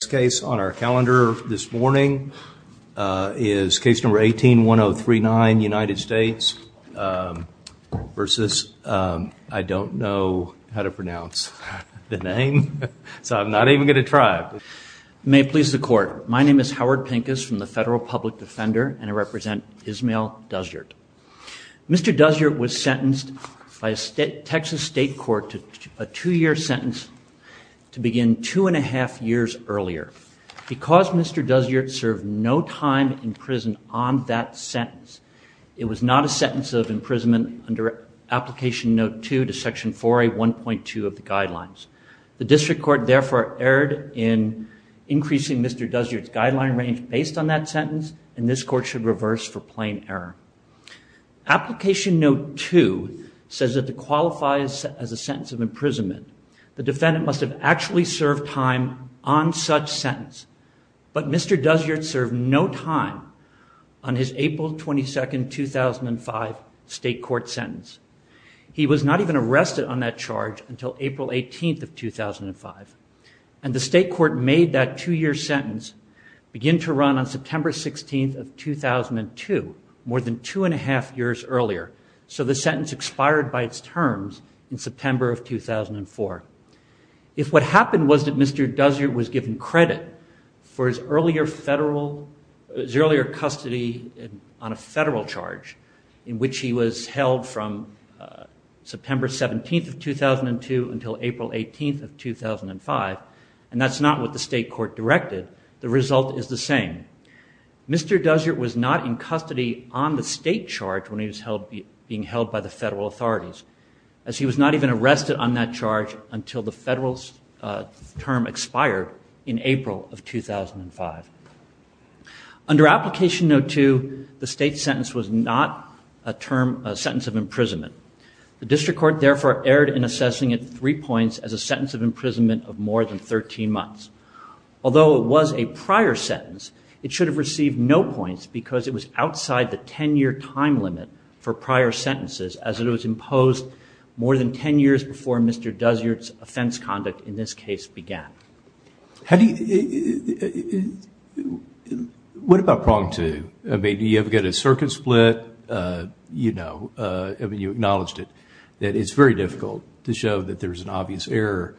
This case on our calendar this morning is case number 18-1039, United States v. I don't know how to pronounce the name, so I'm not even going to try. May it please the court, my name is Howard Pincus from the Federal Public Defender and I represent Ismael Duzyurt. Mr. Duzyurt was sentenced by a Texas state court to a two-year sentence to begin two and a half years earlier. Because Mr. Duzyurt served no time in prison on that sentence, it was not a sentence of imprisonment under Application Note 2 to Section 4A 1.2 of the Guidelines. The district court therefore erred in increasing Mr. Duzyurt's guideline range based on that sentence and this court should reverse for plain error. Application Note 2 says that to qualify as a sentence of imprisonment, the defendant must have actually served time on such sentence. But Mr. Duzyurt served no time on his April 22, 2005 state court sentence. He was not even arrested on that charge until April 18, 2005 and the state court made that two-year sentence begin to run on September 16, 2002, more than two and a half years earlier. So the sentence expired by its terms in September of 2004. If what happened was that Mr. Duzyurt was given credit for his earlier federal, his earlier custody on a federal charge in which he was held from September 17, 2002 until April 18, 2005, and that's not what the state court directed, the result is the same. Mr. Duzyurt was not in custody on the state charge when he was being held by the federal authorities as he was not even arrested on that charge until the federal term expired in April of 2005. Under Application Note 2, the state sentence was not a sentence of imprisonment. The district court therefore erred in assessing it three points as a sentence of imprisonment of more than 13 months. Although it was a prior sentence, it should have received no points because it was outside the 10-year time limit for prior sentences as it was imposed more than 10 years before Mr. Duzyurt's offense conduct in this case began. How do you... What about Prong 2? I mean, do you ever get a circuit split? You know, I mean, you acknowledged it, that it's very difficult to show that there's an obvious error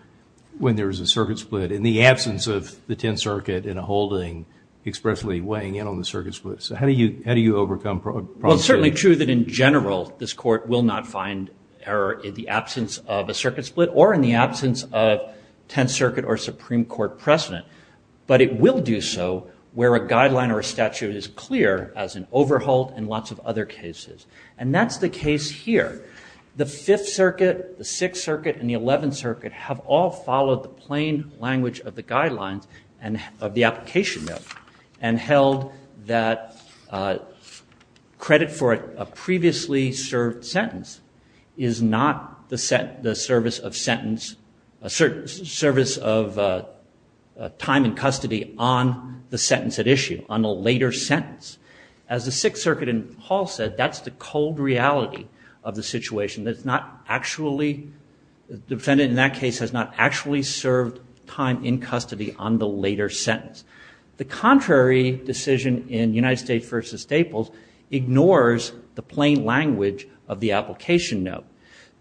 when there's a circuit split in the absence of the 10th Circuit in a holding expressly weighing in on the circuit split. So how do you overcome Prong 2? Well, it's certainly true that in general this court will not find error in the absence of a circuit split or in the absence of 10th Circuit or Supreme Court precedent. But it will do so where a guideline or a statute is clear as an overhaul and lots of other cases. And that's the case here. The 5th Circuit, the 6th Circuit, and the 11th Circuit have all followed the plain language of the guidelines of the application note and held that credit for a previously served sentence is not the service of sentence... service of time in custody on the sentence at issue, on a later sentence. As the 6th Circuit in Hall said, that's the cold reality of the situation. That it's not actually... The defendant in that case has not actually served time in custody on the later sentence. The contrary decision in United States v. Staples ignores the plain language of the application note.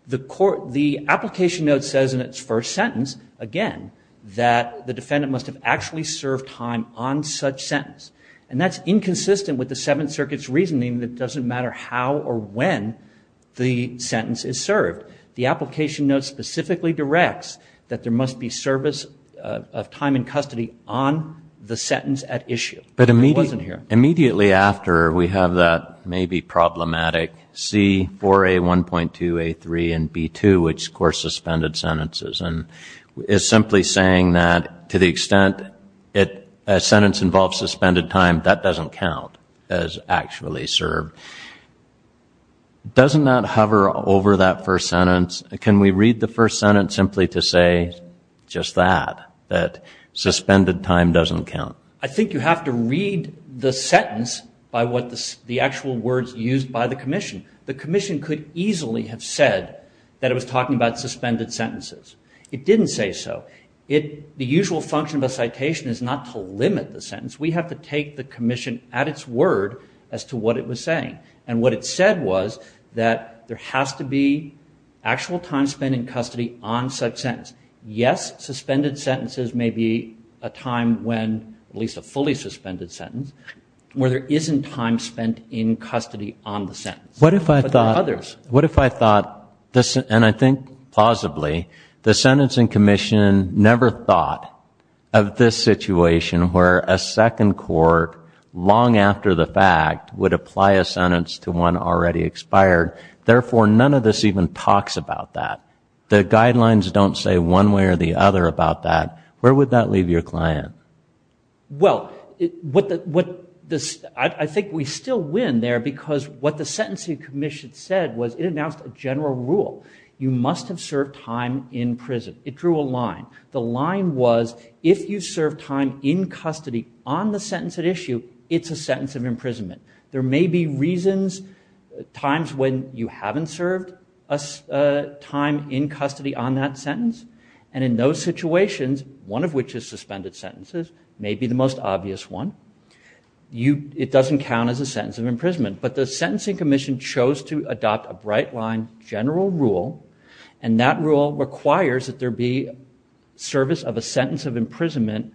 The court... The application note says in its first sentence, again, that the defendant must have actually served time on such sentence. And that's inconsistent with the 7th Circuit's reasoning that it doesn't matter how or when the sentence is served. The application note specifically directs that there must be service of time in custody on the sentence at issue. It wasn't here. Immediately after, we have that maybe problematic C4A1.2A3 and B2, which, of course, suspended sentences. And is simply saying that to the extent a sentence involves suspended time, that doesn't count as actually served. Doesn't that hover over that first sentence? Can we read the first sentence simply to say just that, that suspended time doesn't count? I think you have to read the sentence by what the actual words used by the Commission. The Commission could easily have said that it was talking about suspended sentences. It didn't say so. The usual function of a citation is not to limit the sentence. We have to take the Commission at its word as to what it was saying. And what it said was that there has to be actual time spent in custody on such sentence. Yes, suspended sentences may be a time when, at least a fully suspended sentence, where there isn't time spent in custody on the sentence. But there are others. What if I thought, and I think plausibly, the Sentencing Commission never thought of this situation where a second court long after the fact would apply a sentence to one already expired. Therefore, none of this even talks about that. The guidelines don't say one way or the other about that. Where would that leave your client? Well, I think we still win there because what the Sentencing Commission said was it announced a general rule. You must have served time in prison. It drew a line. The line was if you serve time in custody on the sentence at issue, it's a sentence of imprisonment. There may be reasons, times when you haven't served time in custody on that sentence. And in those situations, one of which is suspended sentences, may be the most obvious one. It doesn't count as a sentence of imprisonment. But the Sentencing Commission chose to adopt a bright line general rule. And that rule requires that there be service of a sentence of imprisonment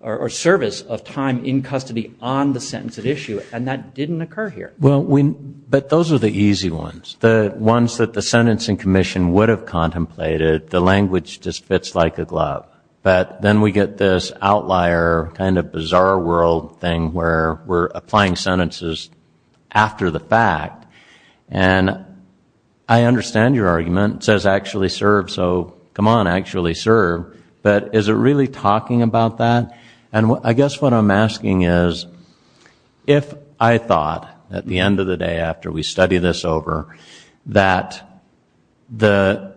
or service of time in custody on the sentence at issue. And that didn't occur here. Well, but those are the easy ones, the ones that the Sentencing Commission would have contemplated. The language just fits like a glove. But then we get this outlier kind of bizarre world thing where we're applying sentences after the fact. And I understand your argument. It says actually serve, so come on, actually serve. But is it really talking about that? And I guess what I'm asking is if I thought at the end of the day after we study this over that the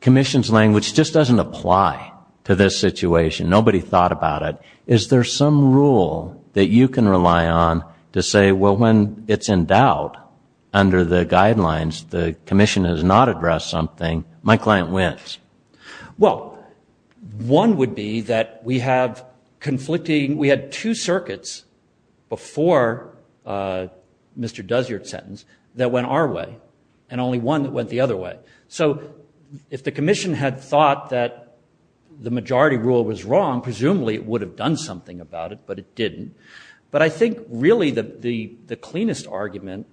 commission's language just doesn't apply to this situation, nobody thought about it, is there some rule that you can rely on to say, well, when it's in doubt under the guidelines, the commission has not addressed something, my client wins? Well, one would be that we have conflicting, we had two circuits before Mr. Desiart's sentence that went our way, and only one that went the other way. So if the commission had thought that the majority rule was wrong, presumably it would have done something about it, but it didn't. But I think really the cleanest argument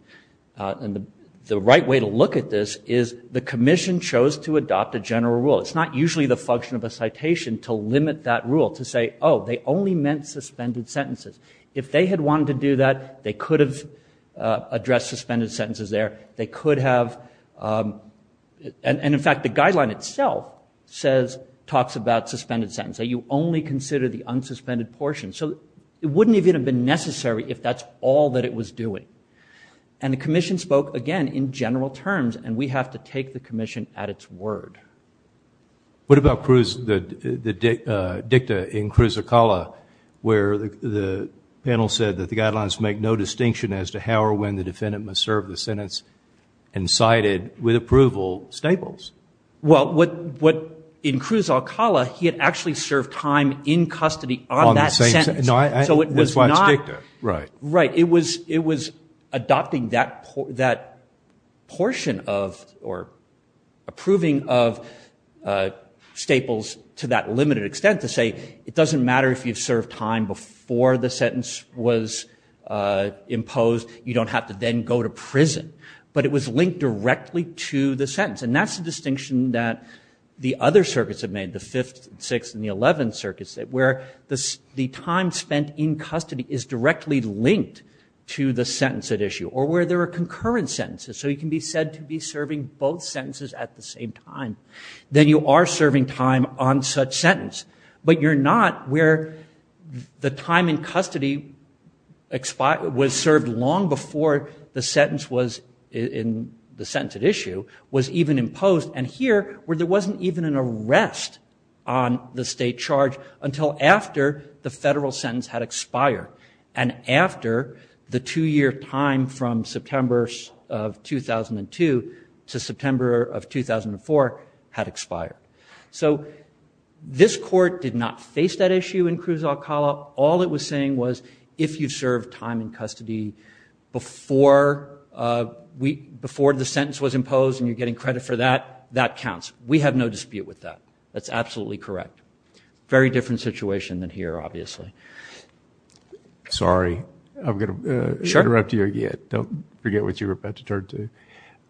and the right way to look at this is the commission chose to adopt a general rule. It's not usually the function of a citation to limit that rule, to say, oh, they only meant suspended sentences. If they had wanted to do that, they could have addressed suspended sentences there. They could have, and in fact the guideline itself talks about suspended sentences. You only consider the unsuspended portion. So it wouldn't even have been necessary if that's all that it was doing. And the commission spoke, again, in general terms, and we have to take the commission at its word. What about Cruz, the dicta in Cruz Alcala, where the panel said that the guidelines make no distinction as to how or when the defendant must serve the sentence and cite it with approval staples? Well, in Cruz Alcala, he had actually served time in custody on that sentence. That's why it's dicta, right. It was adopting that portion of or approving of staples to that limited extent to say, it doesn't matter if you've served time before the sentence was imposed. You don't have to then go to prison. But it was linked directly to the sentence, and that's the distinction that the other circuits have made, the Fifth and Sixth and the Eleventh Circuit, where the time spent in custody is directly linked to the sentence at issue or where there are concurrent sentences. So you can be said to be serving both sentences at the same time. Then you are serving time on such sentence, but you're not where the time in custody was served long before the sentence was, in the sentence at issue, was even imposed, and here where there wasn't even an arrest on the state charge until after the federal sentence had expired and after the two-year time from September of 2002 to September of 2004 had expired. So this court did not face that issue in Cruz Alcala. All it was saying was if you served time in custody before the sentence was imposed and you're getting credit for that, that counts. We have no dispute with that. That's absolutely correct. Very different situation than here, obviously. Sorry. I'm going to interrupt you again. Don't forget what you were about to turn to.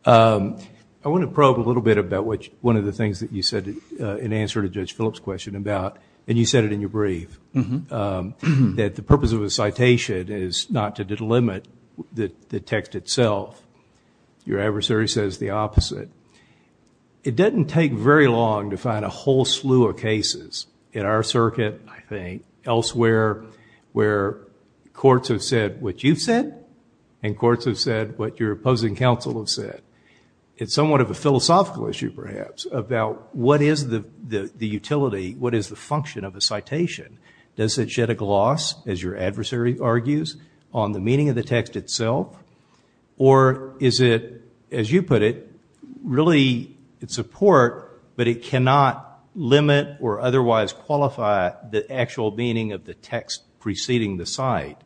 I want to probe a little bit about one of the things that you said in answer to Judge Phillips' question about, and you said it in your brief, that the purpose of a citation is not to delimit the text itself. Your adversary says the opposite. It doesn't take very long to find a whole slew of cases in our circuit, I think, elsewhere where courts have said what you've said and courts have said what your opposing counsel have said. It's somewhat of a philosophical issue, perhaps, about what is the utility, what is the function of a citation. Does it shed a gloss, as your adversary argues, on the meaning of the text itself or is it, as you put it, really it's a port but it cannot limit or otherwise qualify the actual meaning of the text preceding the site?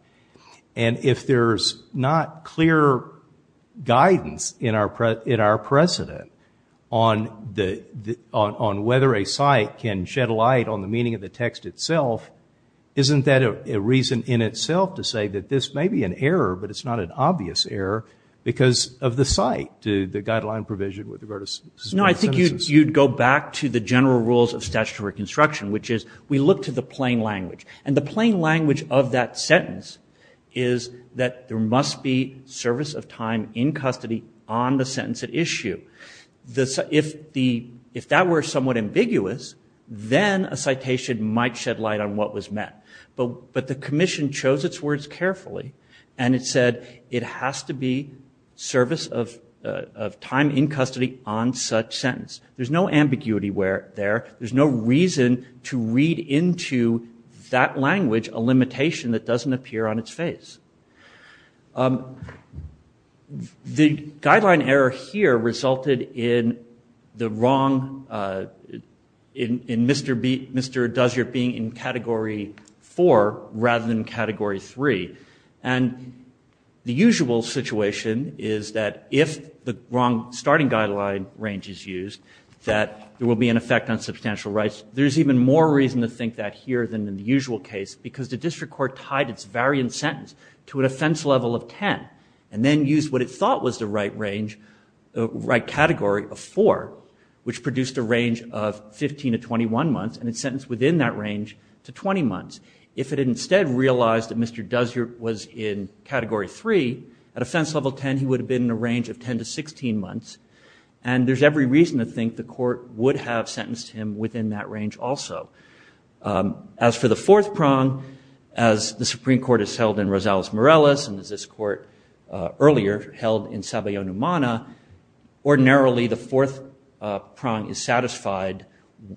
If there's not clear guidance in our precedent on whether a site can shed light on the meaning of the text itself, isn't that a reason in itself to say that this may be an error but it's not an obvious error because of the site, the guideline provision with regard to civil sentences? No, I think you'd go back to the general rules of statutory construction, which is we look to the plain language. And the plain language of that sentence is that there must be service of time in custody on the sentence at issue. If that were somewhat ambiguous, then a citation might shed light on what was meant. But the commission chose its words carefully and it said it has to be service of time in custody on such sentence. There's no ambiguity there. There's no reason to read into that language a limitation that doesn't appear on its face. The guideline error here resulted in the wrong, in Mr. Dozier being in Category 4 rather than Category 3. And the usual situation is that if the wrong starting guideline range is used, that there will be an effect on substantial rights. There's even more reason to think that here than in the usual case because the district court tied its variant sentence to an offense level of 10 and then used what it thought was the right category of 4, which produced a range of 15 to 21 months, and it sentenced within that range to 20 months. If it had instead realized that Mr. Dozier was in Category 3, at offense level 10 he would have been in a range of 10 to 16 months. And there's every reason to think the court would have sentenced him within that range also. As for the fourth prong, as the Supreme Court has held in Rosales-Morales and as this court earlier held in Sabayon-Umana, ordinarily the fourth prong is satisfied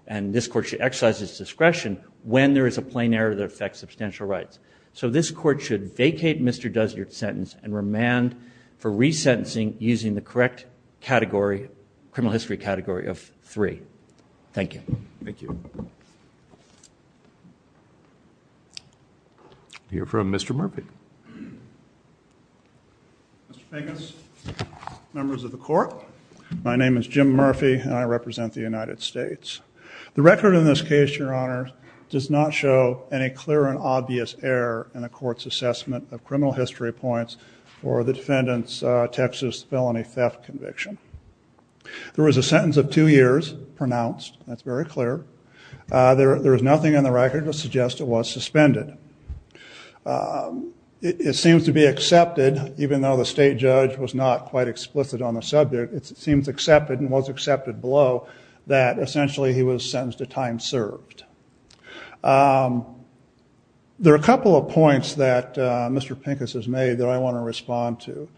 and this court should exercise its discretion when there is a plain error that affects substantial rights. So this court should vacate Mr. Dozier's sentence and remand for resentencing using the correct criminal history category of 3. Thank you. Thank you. We'll hear from Mr. Murphy. Mr. Pegas, members of the court, my name is Jim Murphy and I represent the United States. The record in this case, Your Honor, does not show any clear and obvious error in the court's assessment of criminal history points for the defendant's Texas felony theft conviction. There was a sentence of two years pronounced. That's very clear. There is nothing in the record to suggest it was suspended. It seems to be accepted, even though the state judge was not quite explicit on the subject, it seems accepted and was accepted below that essentially he was sentenced to time served. There are a couple of points that Mr. Pegas has made that I want to respond to.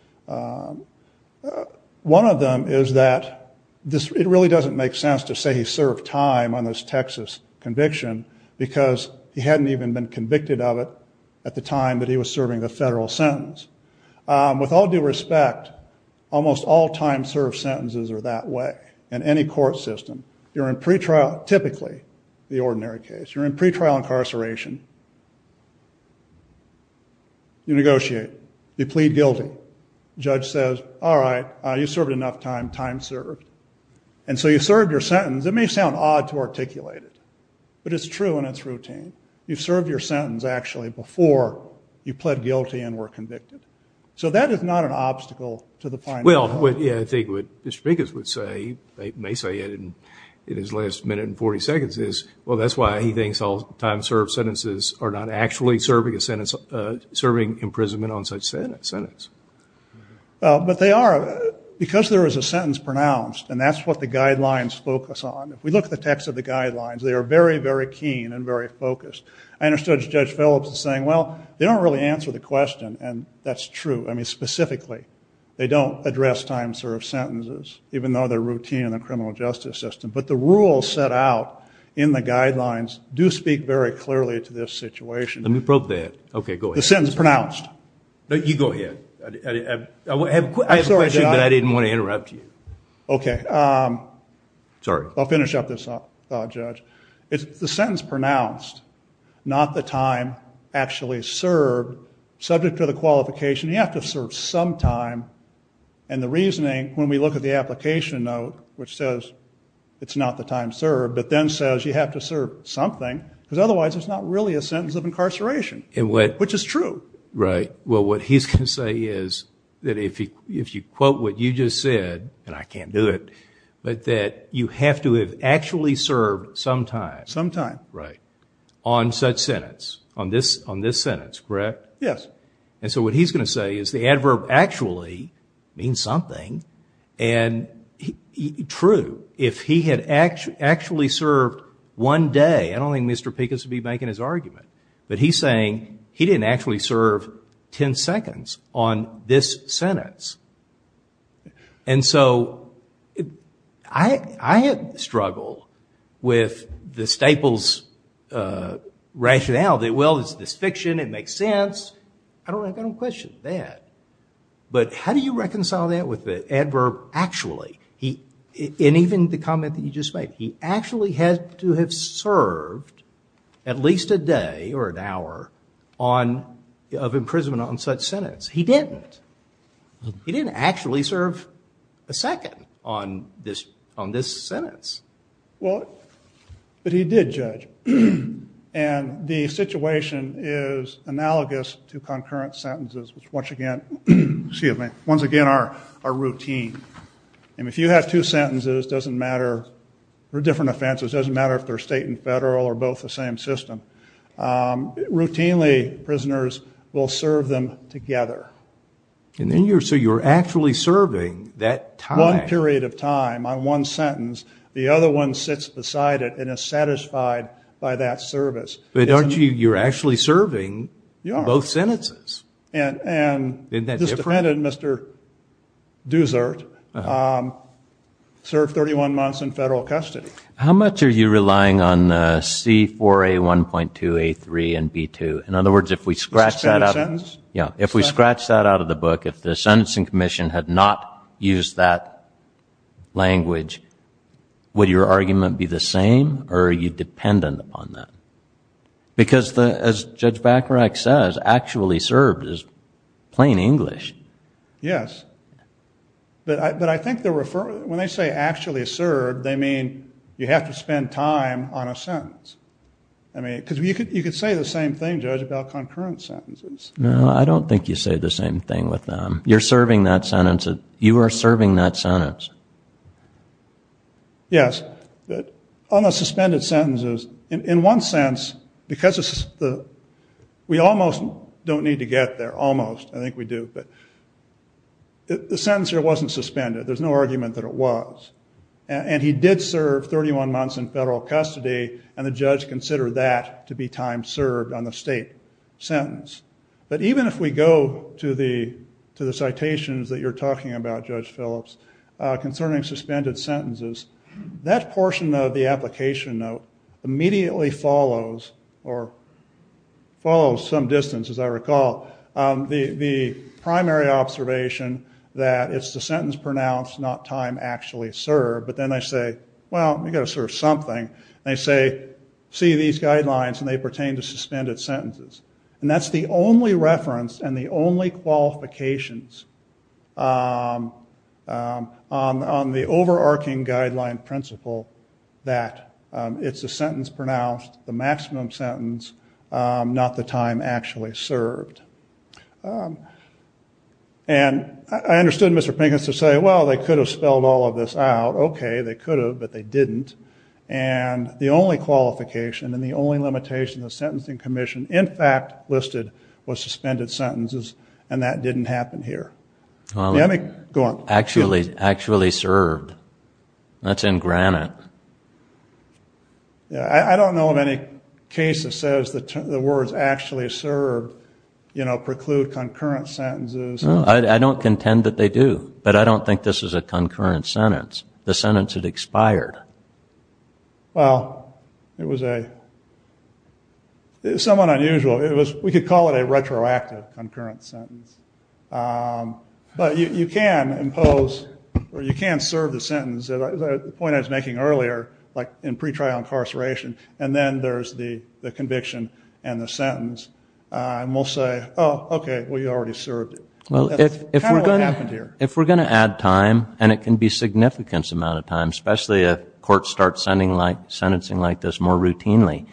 One of them is that it really doesn't make sense to say he served time on this Texas conviction because he hadn't even been convicted of it at the time that he was serving the federal sentence. With all due respect, almost all time served sentences are that way in any court system. You're in pretrial, typically, the ordinary case. You're in pretrial incarceration. You negotiate. You plead guilty. Judge says, all right, you served enough time, time served. And so you served your sentence. It may sound odd to articulate it, but it's true in its routine. You served your sentence, actually, before you pled guilty and were convicted. So that is not an obstacle to the finding. Well, I think what Mr. Pegas would say, may say it in his last minute and 40 seconds, is, well, that's why he thinks all time served sentences are not actually serving a sentence, serving imprisonment on such sentence. But they are. Because there is a sentence pronounced, and that's what the guidelines focus on. If we look at the text of the guidelines, they are very, very keen and very focused. I understood Judge Phillips is saying, well, they don't really answer the question, and that's true. I mean, specifically, they don't address time served sentences, even though they're routine in the criminal justice system. But the rules set out in the guidelines do speak very clearly to this situation. Let me probe that. Okay, go ahead. The sentence pronounced. No, you go ahead. I have a question, but I didn't want to interrupt you. Okay. Sorry. I'll finish up this thought, Judge. It's the sentence pronounced, not the time actually served, subject to the qualification. You have to serve some time. And the reasoning, when we look at the application note, which says it's not the time served, but then says you have to serve something, because otherwise it's not really a sentence of incarceration, which is true. Right. Well, what he's going to say is that if you quote what you just said, and I can't do it, but that you have to have actually served some time. Some time. Right. On such sentence, on this sentence, correct? Yes. And so what he's going to say is the adverb actually means something, and true. If he had actually served one day, I don't think Mr. Pekus would be making his argument, but he's saying he didn't actually serve ten seconds on this sentence. And so I struggle with the Staples rationale that, well, it's this fiction, it makes sense. I don't question that. But how do you reconcile that with the adverb actually? And even the comment that you just made. He actually had to have served at least a day or an hour of imprisonment on such sentence. He didn't. He didn't actually serve a second on this sentence. Well, but he did, Judge. And the situation is analogous to concurrent sentences, which once again are routine. And if you have two sentences, it doesn't matter. They're different offenses. It doesn't matter if they're state and federal or both the same system. Routinely, prisoners will serve them together. So you're actually serving that time. One period of time on one sentence. The other one sits beside it and is satisfied by that service. But you're actually serving both sentences. And this defendant, Mr. Dusert, served 31 months in federal custody. How much are you relying on C4A1.2A3 and B2? In other words, if we scratch that out of the book, if the sentencing commission had not used that language, would your argument be the same or are you dependent upon that? Because as Judge Bacharach says, actually served is plain English. Yes. But I think when they say actually served, they mean you have to spend time on a sentence. I mean, because you could say the same thing, Judge, about concurrent sentences. No, I don't think you say the same thing with them. You're serving that sentence. You are serving that sentence. Yes. But on the suspended sentences, in one sense, because we almost don't need to get there. Almost, I think we do. But the sentence here wasn't suspended. There's no argument that it was. And he did serve 31 months in federal custody, and the judge considered that to be time served on the state sentence. But even if we go to the citations that you're talking about, Judge Phillips, concerning suspended sentences, that portion of the application note immediately follows, or follows some distance, as I recall, the primary observation that it's the sentence pronounced, not time actually served. But then they say, well, you've got to serve something. And they say, see these guidelines, and they pertain to suspended sentences. And that's the only reference and the only qualifications on the overarching guideline principle that it's the sentence pronounced, the maximum sentence, not the time actually served. And I understood Mr. Pincus to say, well, they could have spelled all of this out. Okay, they could have, but they didn't. And the only qualification and the only limitation the Sentencing Commission in fact listed was suspended sentences, and that didn't happen here. Go on. Actually served. That's in granite. I don't know of any case that says the words actually served preclude concurrent sentences. I don't contend that they do. But I don't think this is a concurrent sentence. The sentence had expired. Well, it was somewhat unusual. We could call it a retroactive concurrent sentence. But you can impose or you can serve the sentence. The point I was making earlier, like in pretrial incarceration, and then there's the conviction and the sentence. And we'll say, oh, okay, well, you already served it. That's kind of what happened here. If we're going to add time, and it can be a significant amount of time, especially if courts start sentencing like this more routinely,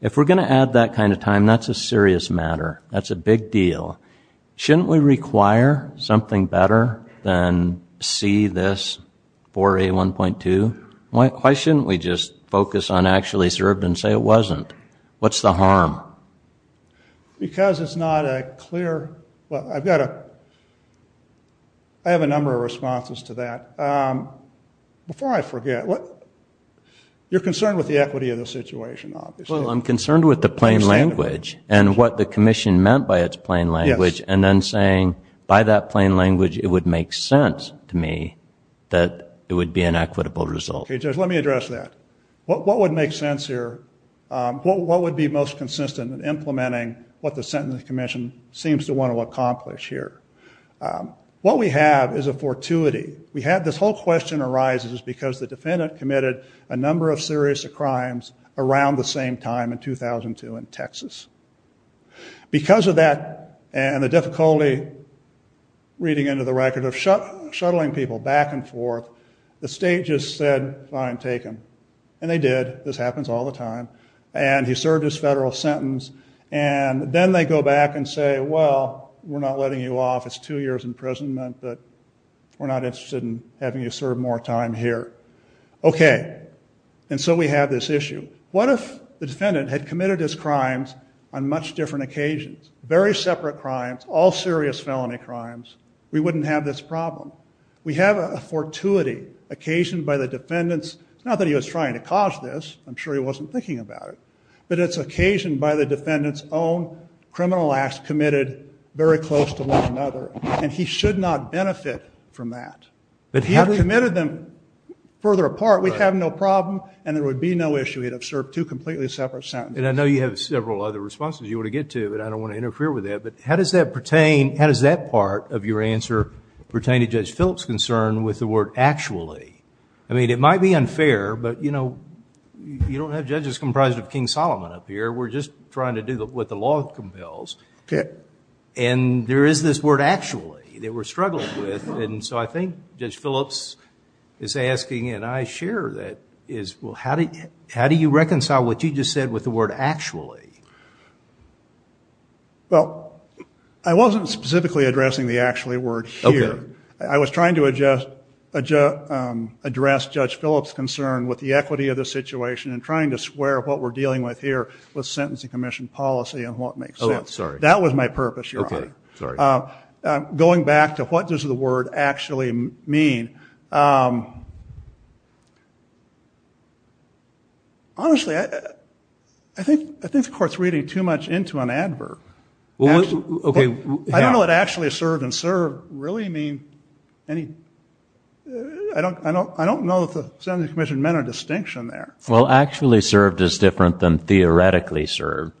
if we're going to add that kind of time, that's a serious matter. That's a big deal. Shouldn't we require something better than see this 4A1.2? Why shouldn't we just focus on actually served and say it wasn't? What's the harm? Because it's not a clear – well, I have a number of responses to that. Before I forget, you're concerned with the equity of the situation, obviously. Well, I'm concerned with the plain language and what the commission meant by its plain language, and then saying by that plain language it would make sense to me that it would be an equitable result. Okay, Judge, let me address that. What would make sense here? What would be most consistent in implementing what the Sentencing Commission seems to want to accomplish here? What we have is a fortuity. We have this whole question arises because the defendant committed a number of serious crimes around the same time in 2002 in Texas. Because of that and the difficulty, reading into the record, of shuttling people back and forth, the state just said, fine, take them. And they did. This happens all the time. And he served his federal sentence, and then they go back and say, well, we're not letting you off. It's two years imprisonment, but we're not interested in having you serve more time here. Okay, and so we have this issue. What if the defendant had committed his crimes on much different occasions, very separate crimes, all serious felony crimes? We wouldn't have this problem. We have a fortuity occasioned by the defendants. It's not that he was trying to cause this. I'm sure he wasn't thinking about it. But it's occasioned by the defendants' own criminal acts committed very close to one another. And he should not benefit from that. If he had committed them further apart, we'd have no problem and there would be no issue. He'd have served two completely separate sentences. And I know you have several other responses you want to get to, but I don't want to interfere with that. But how does that part of your answer pertain to Judge Phillips' concern with the word actually? I mean, it might be unfair, but, you know, you don't have judges comprised of King Solomon up here. We're just trying to do what the law compels. And there is this word actually that we're struggling with. And so I think Judge Phillips is asking, and I share that, is how do you reconcile what you just said with the word actually? Well, I wasn't specifically addressing the actually word here. I was trying to address Judge Phillips' concern with the equity of the situation and trying to square what we're dealing with here with sentencing commission policy and what makes sense. Oh, sorry. That was my purpose, Your Honor. Okay. Sorry. Going back to what does the word actually mean, honestly I think the Court's reading too much into an adverb. Okay. I don't know what actually served and served really mean. I don't know if the sentencing commission meant a distinction there. Well, actually served is different than theoretically served.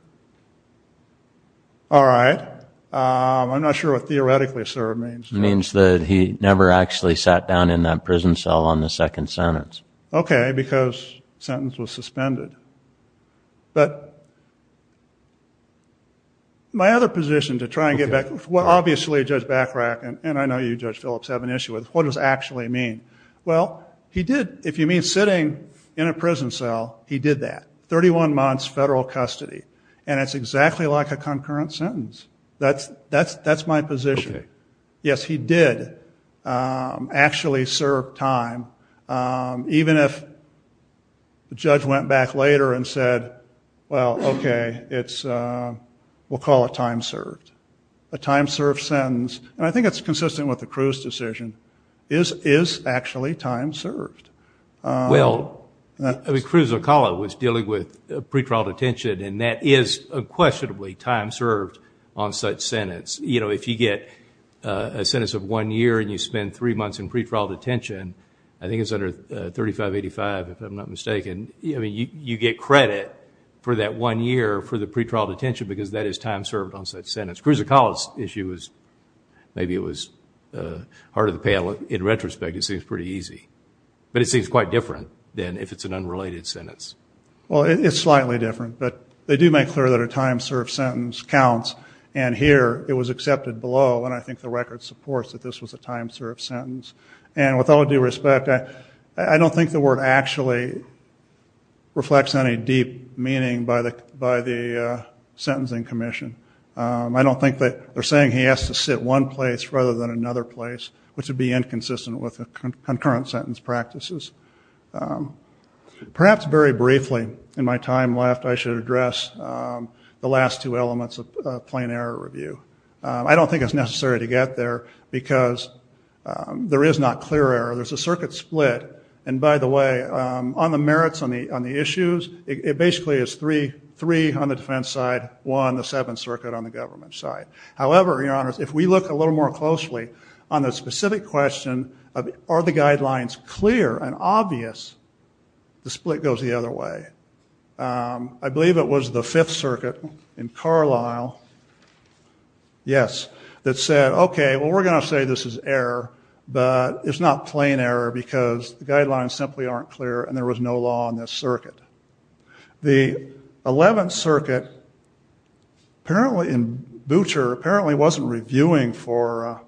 All right. I'm not sure what theoretically served means. It means that he never actually sat down in that prison cell on the second sentence. Okay, because sentence was suspended. But my other position to try and get back, obviously Judge Bachrach, and I know you, Judge Phillips, have an issue with, what does actually mean? Well, he did, if you mean sitting in a prison cell, he did that. Thirty-one months federal custody, and it's exactly like a concurrent sentence. That's my position. Okay. Yes, he did actually serve time. Even if the judge went back later and said, well, okay, we'll call it time served. A time served sentence, and I think it's consistent with the Cruz decision, is actually time served. Well, Cruz Ocala was dealing with pretrial detention, and that is unquestionably time served on such sentence. You know, if you get a sentence of one year and you spend three months in pretrial detention, I think it's under 3585 if I'm not mistaken, you get credit for that one year for the pretrial detention because that is time served on such sentence. Cruz Ocala's issue was, maybe it was hard of the panel, in retrospect it seems pretty easy. But it seems quite different than if it's an unrelated sentence. Well, it's slightly different, but they do make clear that a time served sentence counts, and here it was accepted below, and I think the record supports that this was a time served sentence. And with all due respect, I don't think the word actually reflects any deep meaning by the sentencing commission. I don't think that they're saying he has to sit one place rather than another place, which would be inconsistent with concurrent sentence practices. Perhaps very briefly in my time left, I should address the last two elements of plain error review. I don't think it's necessary to get there because there is not clear error. There's a circuit split, and by the way, on the merits on the issues, it basically is three on the defense side, one, the seventh circuit on the government side. However, your honors, if we look a little more closely on the specific question of are the guidelines clear and obvious, the split goes the other way. I believe it was the fifth circuit in Carlisle, yes, that said, okay, well, we're going to say this is error, but it's not plain error because the guidelines simply aren't clear and there was no law on this circuit. The eleventh circuit in Butcher apparently wasn't reviewing for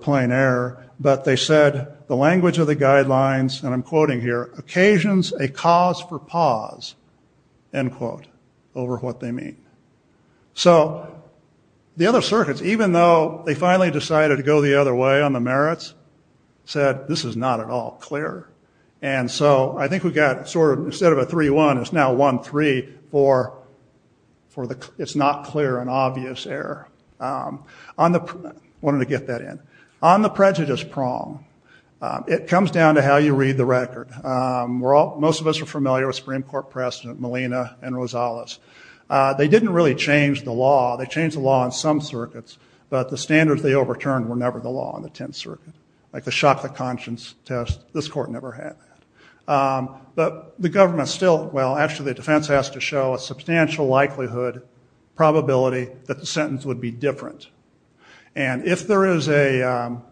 plain error, but they said the language of the guidelines, and I'm quoting here, occasions a cause for pause, end quote, over what they mean. So the other circuits, even though they finally decided to go the other way on the merits, said this is not at all clear. And so I think we got sort of instead of a 3-1, it's now 1-3 for it's not clear and obvious error. I wanted to get that in. On the prejudice prong, it comes down to how you read the record. Most of us are familiar with Supreme Court President Molina and Rosales. They didn't really change the law. They changed the law on some circuits, but the standards they overturned were never the law on the tenth circuit, like the shock of conscience test. This court never had that. But the government still, well, actually the defense has to show a substantial likelihood probability that the sentence would be different. And if the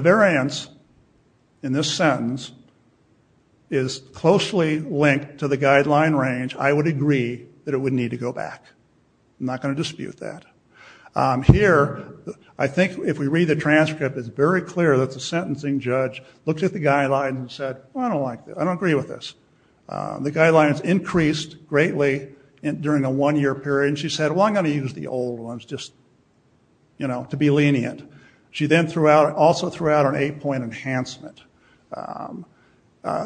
variance in this sentence is closely linked to the guideline range, I would agree that it would need to go back. I'm not going to dispute that. Here, I think if we read the transcript, it's very clear that the sentencing judge looked at the guidelines and said, well, I don't agree with this. The guidelines increased greatly during the one-year period, and she said, well, I'm going to use the old ones just to be lenient. She then also threw out an eight-point enhancement.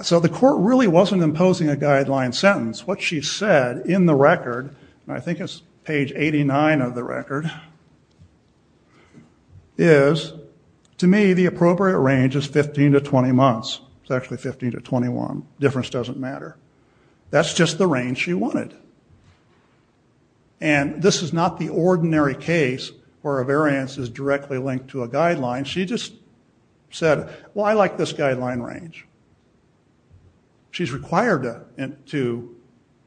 So the court really wasn't imposing a guideline sentence. What she said in the record, and I think it's page 89 of the record, is, to me, the appropriate range is 15 to 20 months. It's actually 15 to 21. Difference doesn't matter. That's just the range she wanted. And this is not the ordinary case where a variance is directly linked to a guideline. She just said, well, I like this guideline range. She's required to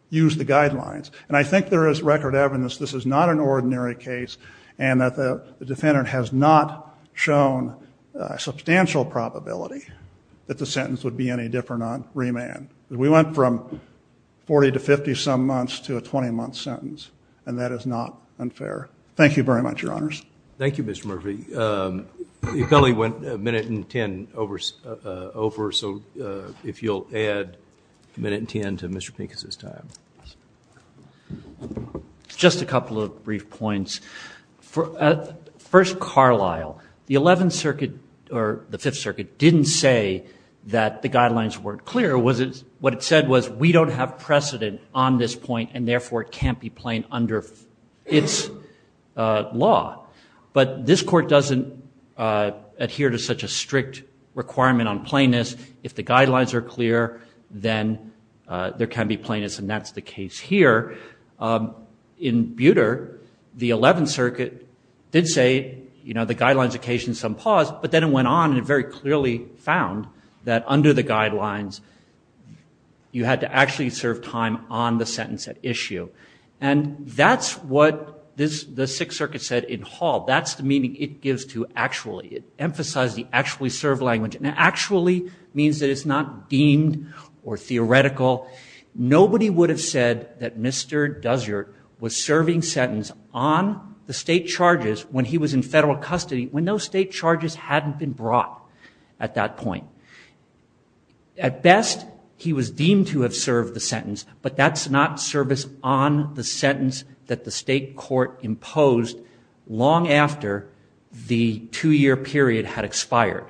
use the guidelines. And I think there is record evidence this is not an ordinary case and that the defendant has not shown a substantial probability that the sentence would be any different on remand. We went from 40 to 50-some months to a 20-month sentence, and that is not unfair. Thank you very much, Your Honors. Thank you, Mr. Murphy. You probably went a minute and ten over, so if you'll add a minute and ten to Mr. Pincus' time. Just a couple of brief points. First, Carlisle, the Eleventh Circuit, or the Fifth Circuit, didn't say that the guidelines weren't clear. What it said was, we don't have precedent on this point, and therefore it can't be plain under its law. But this Court doesn't adhere to such a strict requirement on plainness. If the guidelines are clear, then there can be plainness, and that's the case here. In Buder, the Eleventh Circuit did say, you know, the guidelines occasion some pause, but then it went on and very clearly found that under the guidelines, you had to actually serve time on the sentence at issue. And that's what the Sixth Circuit said in Hall. That's the meaning it gives to actually. It emphasized the actually served language, and actually means that it's not deemed or theoretical. Nobody would have said that Mr. Dussert was serving sentence on the state charges when he was in federal custody, when those state charges hadn't been brought at that point. At best, he was deemed to have served the sentence, but that's not service on the sentence that the state court imposed long after the two-year period had expired.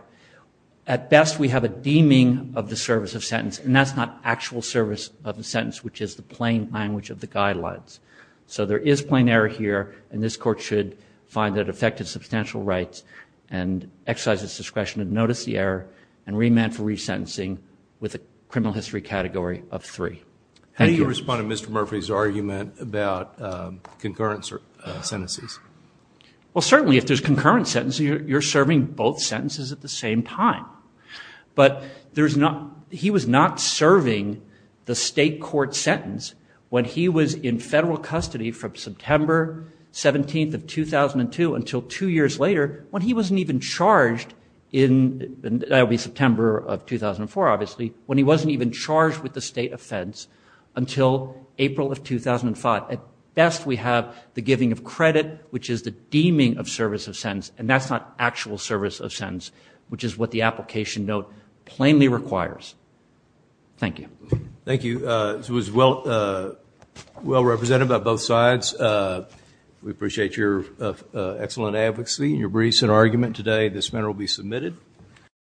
At best, we have a deeming of the service of sentence, and that's not actual service of the sentence, which is the plain language of the guidelines. So there is plain error here, and this court should find that it affected substantial rights and exercise its discretion to notice the error and remand for resentencing with a criminal history category of three. Thank you. How do you respond to Mr. Murphy's argument about concurrent sentences? Well, certainly if there's concurrent sentences, you're serving both sentences at the same time. But he was not serving the state court sentence when he was in federal custody from September 17th of 2002 until two years later when he wasn't even charged in September of 2004, obviously, when he wasn't even charged with the state offense until April of 2005. At best, we have the giving of credit, which is the deeming of service of sentence, and that's not actual service of sentence, which is what the application note plainly requires. Thank you. Thank you. This was well represented by both sides. We appreciate your excellent advocacy and your briefs and argument today. This matter will be submitted.